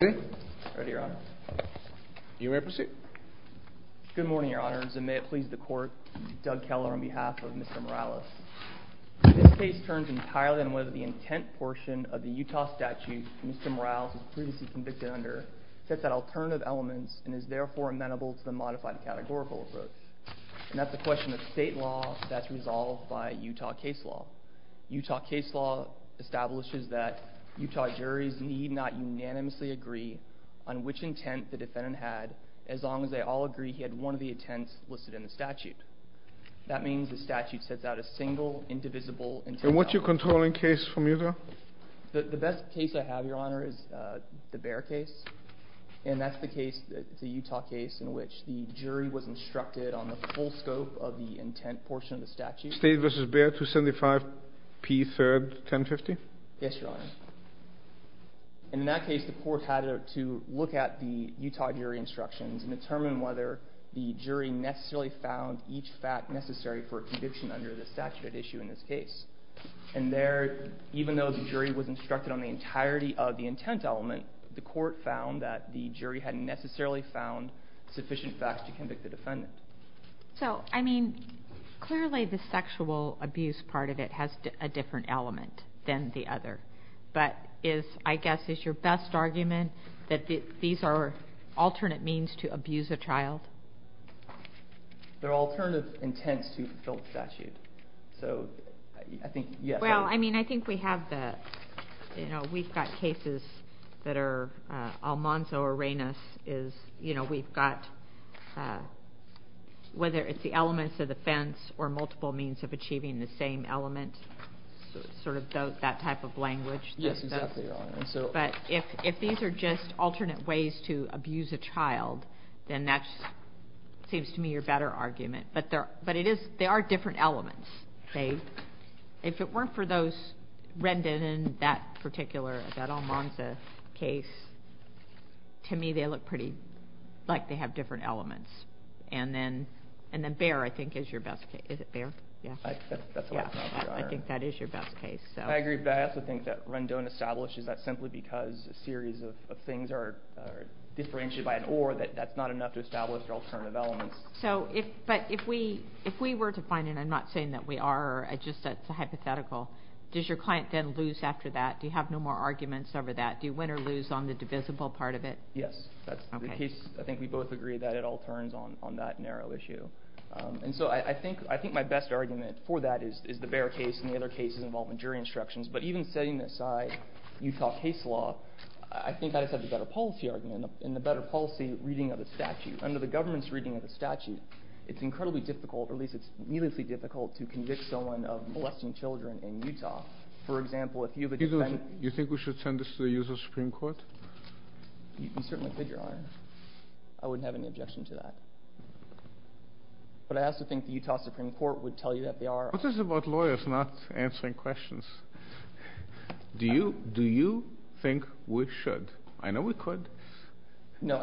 Good morning, Your Honors, and may it please the Court, Doug Keller, on behalf of Mr. Morales. This case turns entirely on whether the intent portion of the Utah statute Mr. Morales was previously convicted under sets out alternative elements and is therefore amenable to the modified categorical approach. And that's a question of state law that's resolved by Utah case law. Utah case law establishes that Utah juries need not unanimously agree on which intent the defendant had as long as they all agree he had one of the intents listed in the statute. That means the statute sets out a single, indivisible intent. And what's your controlling case from Utah? The best case I have, Your Honor, is the Baer case. And that's the case, the Utah case, in which the jury was instructed on the full scope of the intent portion of the statute. State v. Baer, 275 P. 3rd, 1050? Yes, Your Honor. And in that case, the court had to look at the Utah jury instructions and determine whether the jury necessarily found each fact necessary for a conviction under the statute at issue in this case. And there, even though the jury was instructed on the entirety of the intent element, the court found that the jury hadn't necessarily found sufficient facts to convict the defendant. So, I mean, clearly the sexual abuse part of it has a different element than the other. But is, I guess, is your best argument that these are alternate means to abuse a child? They're alternative intents to fulfill the statute. So, I think, yes. Well, I mean, I think we have the, you know, we've got cases that are Almanzo or Reynos. You know, we've got, whether it's the elements of the fence or multiple means of achieving the same element, sort of that type of language. Yes, exactly, Your Honor. But if these are just alternate ways to abuse a child, then that seems to me your better argument. But it is, they are different elements. If it weren't for those Rendon and that particular, that Almanzo case, to me they look pretty, like they have different elements. And then Bear, I think, is your best case. Is it Bear? Yes. That's what I thought, Your Honor. I think that is your best case. I agree, but I also think that Rendon establishes that simply because a series of things are differentiated by an or, that that's not enough to establish their alternative elements. So, but if we were to find, and I'm not saying that we are, just that's a hypothetical, does your client then lose after that? Do you have no more arguments over that? Do you win or lose on the divisible part of it? Yes, that's the case. I think we both agree that it all turns on that narrow issue. And so I think my best argument for that is the Bear case and the other cases involving jury instructions. But even setting aside Utah case law, I think that is such a better policy argument and a better policy reading of the statute. Under the government's reading of the statute, it's incredibly difficult, or at least it's needlessly difficult, to convict someone of molesting children in Utah. For example, if you have a defendant… Do you think we should send this to the Utah Supreme Court? You certainly could, Your Honor. I wouldn't have any objection to that. But I also think the Utah Supreme Court would tell you that they are… This is about lawyers not answering questions. Do you think we should? I know we could. No,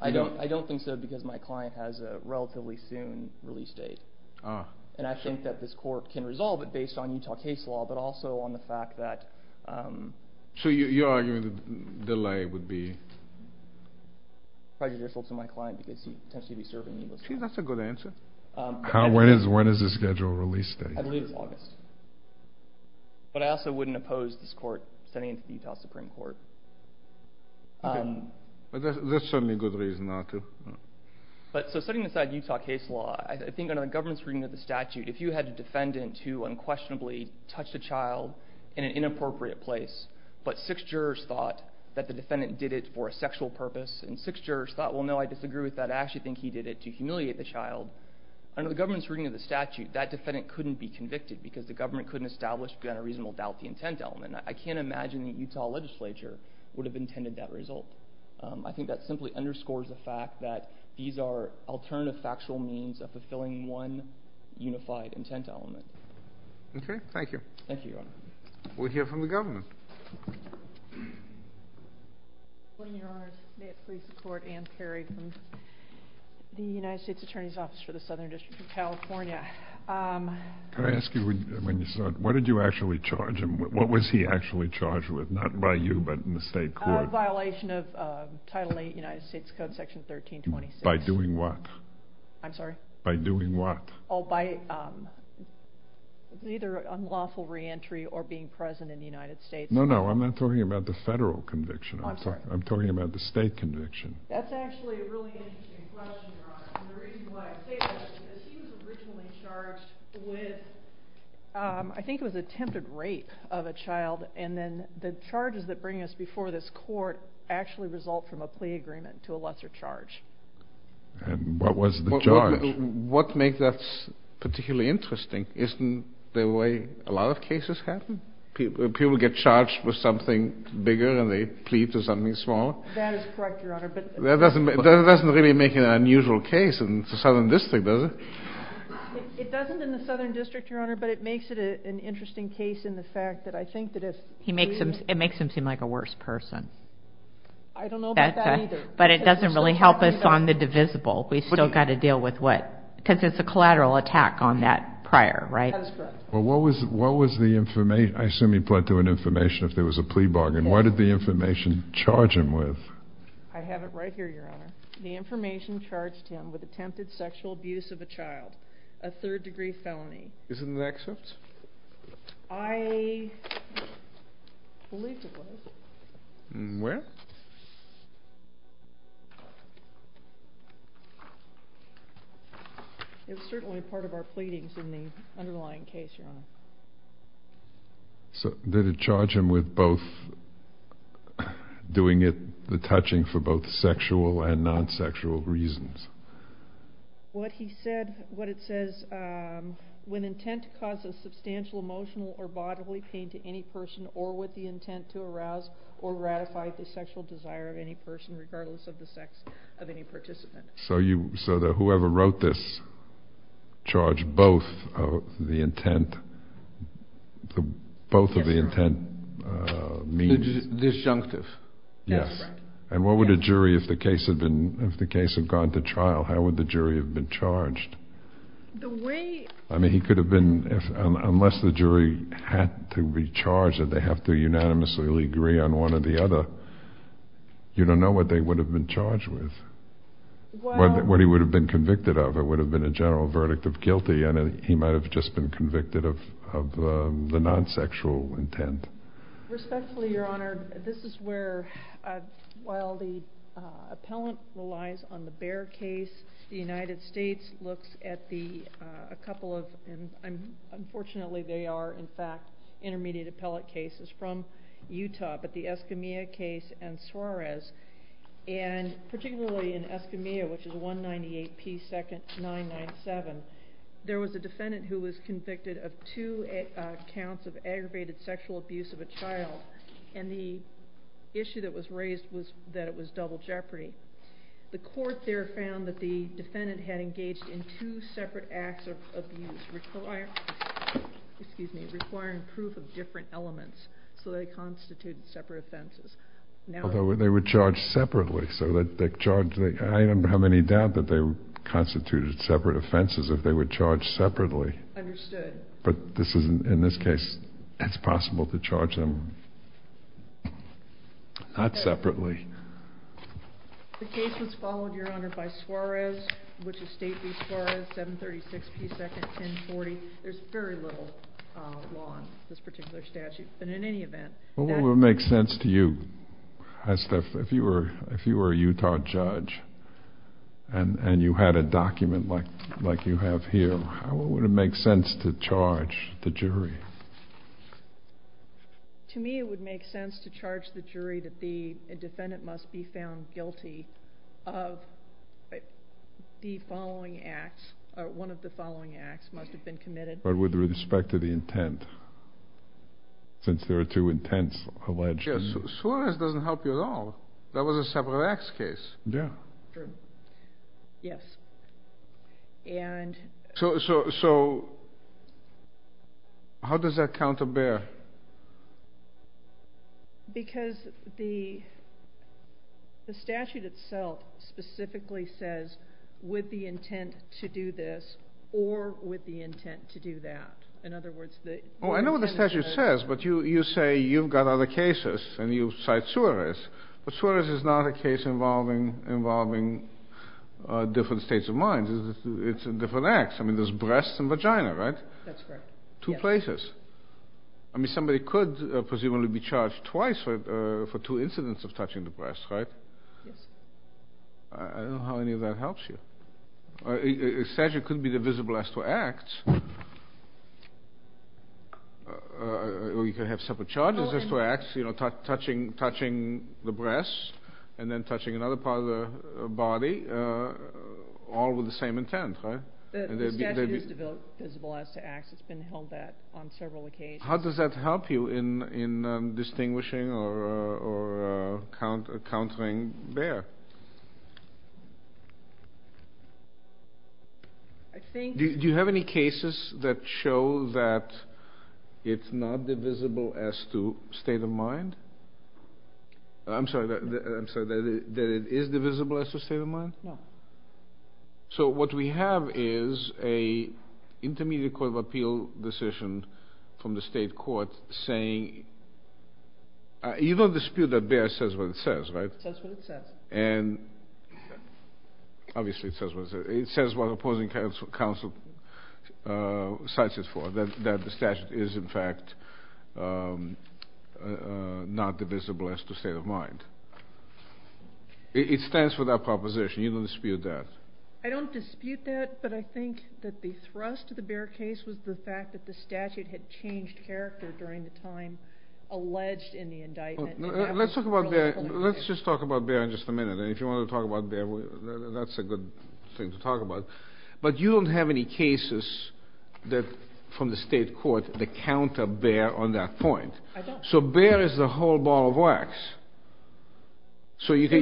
I don't. I don't think so because my client has a relatively soon release date. And I think that this court can resolve it based on Utah case law, but also on the fact that… So you're arguing the delay would be… Prejudicial to my client because he'd potentially be serving needless time. That's a good answer. When is the scheduled release date? I believe it's August. But I also wouldn't oppose this court sending it to the Utah Supreme Court. That's certainly a good reason not to. So setting aside Utah case law, I think under the government's reading of the statute, if you had a defendant who unquestionably touched a child in an inappropriate place, but six jurors thought that the defendant did it for a sexual purpose, and six jurors thought, well, no, I disagree with that. I actually think he did it to humiliate the child. Under the government's reading of the statute, that defendant couldn't be convicted because the government couldn't establish beyond a reasonable doubt the intent element. I can't imagine the Utah legislature would have intended that result. I think that simply underscores the fact that these are alternative factual means of fulfilling one unified intent element. Okay. Thank you. Thank you, Your Honor. We'll hear from the government. Good morning, Your Honors. May it please the Court, Ann Perry from the United States Attorney's Office for the Southern District of California. Can I ask you, when you saw it, what did you actually charge him? What was he actually charged with, not by you, but in the state court? A violation of Title VIII United States Code, Section 1326. By doing what? I'm sorry? By doing what? Oh, by either unlawful reentry or being present in the United States. No, no, I'm not talking about the federal conviction. I'm sorry. That's actually a really interesting question, Your Honor. And the reason why I say that is because he was originally charged with, I think it was attempted rape of a child, and then the charges that bring us before this court actually result from a plea agreement to a lesser charge. And what was the charge? What makes that particularly interesting isn't the way a lot of cases happen. People get charged with something bigger and they plead to something smaller. That is correct, Your Honor. That doesn't really make an unusual case in the Southern District, does it? It doesn't in the Southern District, Your Honor, but it makes it an interesting case in the fact that I think that if he is- It makes him seem like a worse person. I don't know about that either. But it doesn't really help us on the divisible. We've still got to deal with what? Because it's a collateral attack on that prior, right? That is correct. Well, what was the information? I assume he pled to an information if there was a plea bargain. What did the information charge him with? I have it right here, Your Honor. The information charged him with attempted sexual abuse of a child, a third-degree felony. Isn't that accepted? I believe it was. Where? It's certainly part of our pleadings in the underlying case, Your Honor. So did it charge him with both doing the touching for both sexual and non-sexual reasons? What it says, when intent causes substantial emotional or bodily pain to any person or with the intent to arouse or ratify the sexual desire of any person, regardless of the sex of any participant. So whoever wrote this charged both of the intent means? Disjunctive. Yes. And what would a jury, if the case had gone to trial, how would the jury have been charged? The way— I mean, he could have been—unless the jury had to be charged that they have to unanimously agree on one or the other, you don't know what they would have been charged with, what he would have been convicted of. It would have been a general verdict of guilty, and he might have just been convicted of the non-sexual intent. Respectfully, Your Honor, this is where, while the appellant relies on the Bear case, the United States looks at a couple of— and unfortunately they are, in fact, intermediate appellate cases from Utah, but the Escamilla case and Suarez, and particularly in Escamilla, which is 198P2997, there was a defendant who was convicted of two counts of aggravated sexual abuse of a child, and the issue that was raised was that it was double jeopardy. The court there found that the defendant had engaged in two separate acts of abuse, requiring proof of different elements, so they constituted separate offenses. Although they were charged separately, so they charged— I don't have any doubt that they constituted separate offenses if they were charged separately. Understood. But in this case, it's possible to charge them not separately. The case was followed, Your Honor, by Suarez, which is State v. Suarez, 736P21040. There's very little law in this particular statute, but in any event— What would make sense to you, if you were a Utah judge, and you had a document like you have here, what would make sense to charge the jury? To me, it would make sense to charge the jury that the defendant must be found guilty of the following acts, or one of the following acts must have been committed. But with respect to the intent, since there are two intents alleged. Suarez doesn't help you at all. That was a separate acts case. Yeah. True. Yes. And— So how does that counterbear? Because the statute itself specifically says, with the intent to do this, or with the intent to do that. In other words, the— Oh, I know what the statute says, but you say you've got other cases, and you cite Suarez. But Suarez is not a case involving different states of mind. It's different acts. I mean, there's breasts and vagina, right? That's correct. Two places. I mean, somebody could presumably be charged twice for two incidents of touching the breasts, right? Yes. I don't know how any of that helps you. A statute could be divisible as to acts, or you could have separate charges as to acts, you know, touching the breasts, and then touching another part of the body, all with the same intent, right? The statute is divisible as to acts. It's been held that on several occasions. How does that help you in distinguishing or countering there? Do you have any cases that show that it's not divisible as to state of mind? I'm sorry, that it is divisible as to state of mind? No. So what we have is an intermediate court of appeal decision from the state court saying, you don't dispute that Bayer says what it says, right? It says what it says. And obviously it says what it says. It says what opposing counsel cites it for, that the statute is, in fact, not divisible as to state of mind. It stands for that proposition. You don't dispute that. I don't dispute that, but I think that the thrust of the Bayer case was the fact that the statute had changed character during the time alleged in the indictment. Let's just talk about Bayer in just a minute. And if you want to talk about Bayer, that's a good thing to talk about. But you don't have any cases from the state court that counter Bayer on that point. I don't. So Bayer is the whole ball of wax. So you can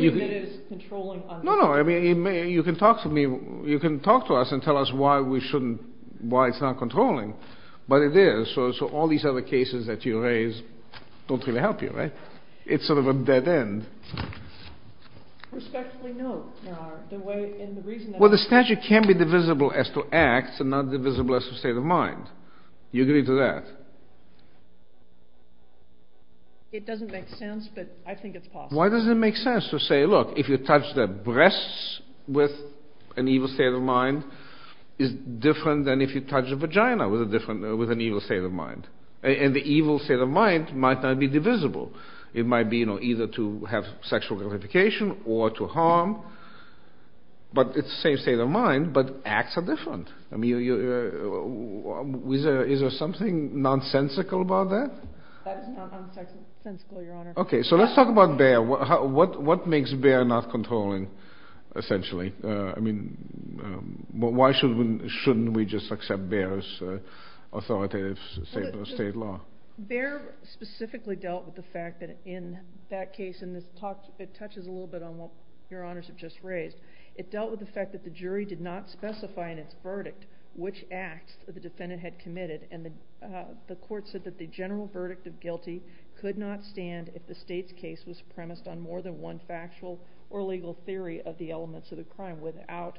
talk to me. You can talk to us and tell us why we shouldn't, why it's not controlling. But it is. So all these other cases that you raise don't really help you, right? It's sort of a dead end. Respectfully no, Your Honor. Well, the statute can be divisible as to act and not divisible as to state of mind. Do you agree to that? It doesn't make sense, but I think it's possible. Why does it make sense to say, look, if you touch the breasts with an evil state of mind, it's different than if you touch a vagina with an evil state of mind. And the evil state of mind might not be divisible. It might be either to have sexual gratification or to harm. But it's the same state of mind, but acts are different. Is there something nonsensical about that? That is not nonsensical, Your Honor. Okay, so let's talk about Bayer. What makes Bayer not controlling, essentially? I mean, why shouldn't we just accept Bayer's authoritative state law? Bayer specifically dealt with the fact that in that case, and it touches a little bit on what Your Honors have just raised, it dealt with the fact that the jury did not specify in its verdict which acts the defendant had committed, and the court said that the general verdict of guilty could not stand if the state's case was premised on more than one factual or legal theory of the elements of the crime without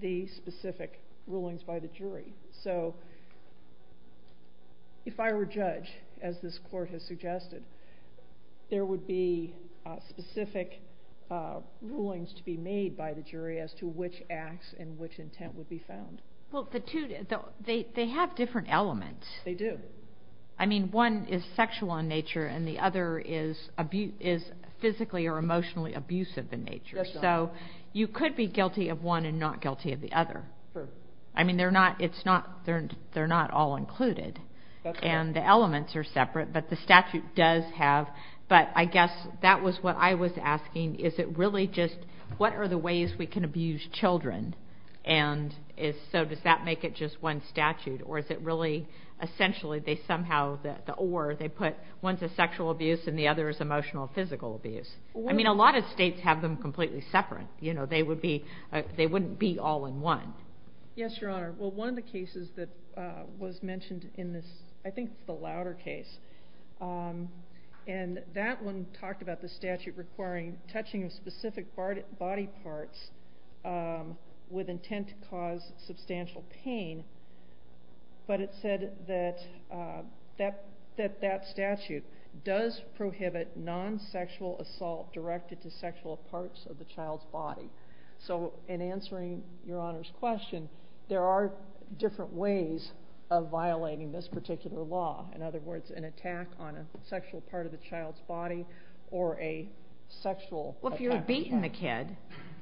the specific rulings by the jury. So if I were judge, as this court has suggested, there would be specific rulings to be made by the jury as to which acts and which intent would be found. Well, they have different elements. They do. I mean, one is sexual in nature, and the other is physically or emotionally abusive in nature. Yes, Your Honor. So you could be guilty of one and not guilty of the other. Sure. I mean, they're not all included. That's right. And the elements are separate, but the statute does have. But I guess that was what I was asking. Is it really just what are the ways we can abuse children, and so does that make it just one statute, or is it really essentially they somehow, or they put one's a sexual abuse and the other is emotional or physical abuse? I mean, a lot of states have them completely separate. They wouldn't be all in one. Yes, Your Honor. Well, one of the cases that was mentioned in this, I think the louder case, and that one talked about the statute requiring touching of specific body parts with intent to cause substantial pain, but it said that that statute does prohibit non-sexual assault directed to sexual parts of the child's body. So in answering Your Honor's question, there are different ways of violating this particular law. In other words, an attack on a sexual part of the child's body or a sexual attack. Well, if you had beaten the kid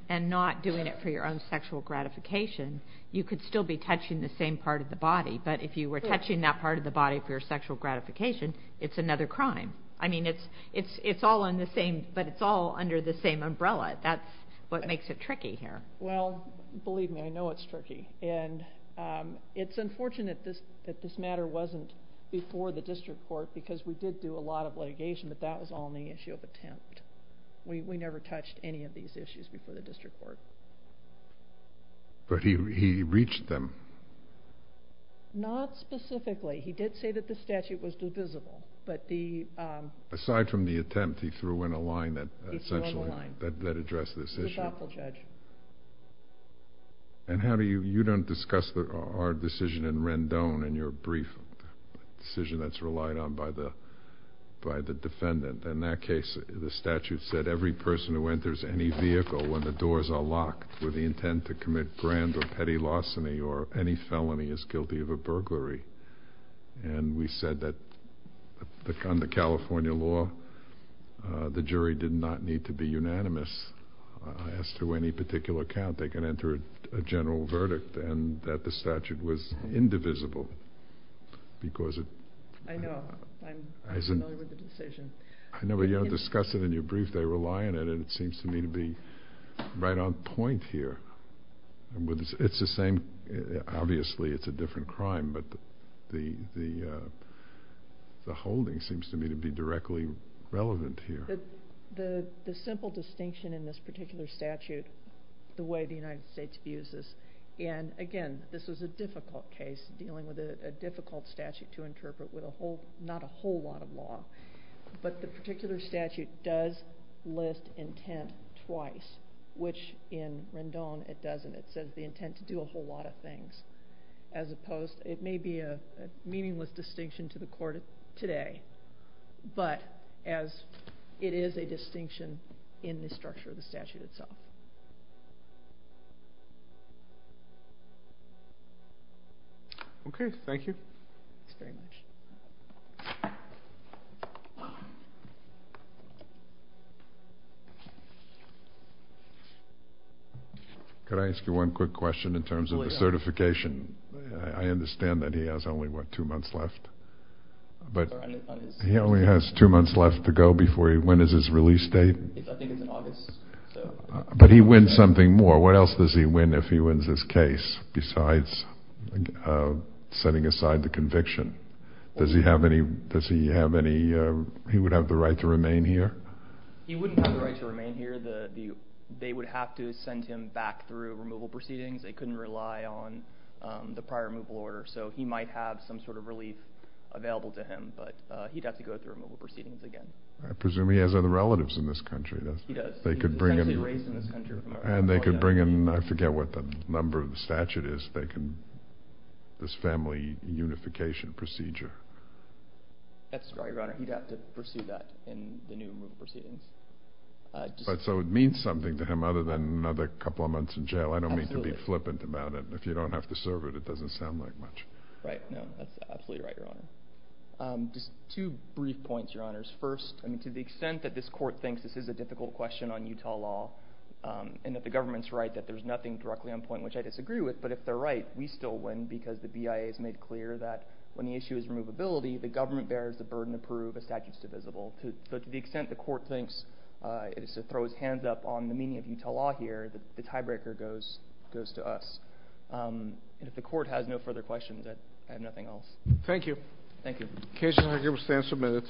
and not doing it for your own sexual gratification, you could still be touching the same part of the body, but if you were touching that part of the body for your sexual gratification, it's another crime. I mean, it's all under the same umbrella. That's what makes it tricky here. Well, believe me, I know it's tricky. And it's unfortunate that this matter wasn't before the district court because we did do a lot of litigation, but that was all on the issue of attempt. We never touched any of these issues before the district court. But he reached them. Not specifically. He did say that the statute was divisible. Aside from the attempt, he threw in a line that essentially addressed this issue. He's a thoughtful judge. And you don't discuss our decision in Rendon in your brief decision that's relied on by the defendant. In that case, the statute said every person who enters any vehicle when the doors are locked with the intent to commit grand or petty larceny or any felony is guilty of a burglary. And we said that under California law, the jury did not need to be unanimous. As to any particular count, they can enter a general verdict and that the statute was indivisible. I know. I'm familiar with the decision. I know, but you don't discuss it in your brief. They rely on it, and it seems to me to be right on point here. It's the same. Obviously, it's a different crime, but the holding seems to me to be directly relevant here. The simple distinction in this particular statute, the way the United States views this, and again, this was a difficult case dealing with a difficult statute to interpret with not a whole lot of law. But the particular statute does list intent twice, which in Rendon it doesn't. It says the intent to do a whole lot of things, as opposed to it may be a meaningless distinction to the court today, but as it is a distinction in the structure of the statute itself. Okay. Thank you. Thanks very much. Could I ask you one quick question in terms of the certification? I understand that he has only, what, two months left? He only has two months left to go before he wins his release date? I think it's in August. But he wins something more. What else does he win if he wins his case besides setting aside the conviction? Does he have any—he would have the right to remain here? He wouldn't have the right to remain here. They would have to send him back through removal proceedings. They couldn't rely on the prior removal order, so he might have some sort of relief available to him, but he'd have to go through removal proceedings again. I presume he has other relatives in this country. He does. They could bring him— He's essentially raised in this country. And they could bring him—I forget what the number of the statute is. They can—this family unification procedure. That's right, Your Honor. He'd have to pursue that in the new removal proceedings. So it means something to him other than another couple of months in jail. I don't mean to be flippant about it. If you don't have to serve it, it doesn't sound like much. Right. No, that's absolutely right, Your Honor. Just two brief points, Your Honors. First, to the extent that this court thinks this is a difficult question on Utah law and that the government's right that there's nothing directly on point, which I disagree with, but if they're right, we still win because the BIA has made clear that when the issue is removability, the government bears the burden to prove a statute's divisible. So to the extent the court thinks it is to throw its hands up on the meaning of Utah law here, the tiebreaker goes to us. And if the court has no further questions, I have nothing else. Thank you. Thank you. The case is now given stands for minutes.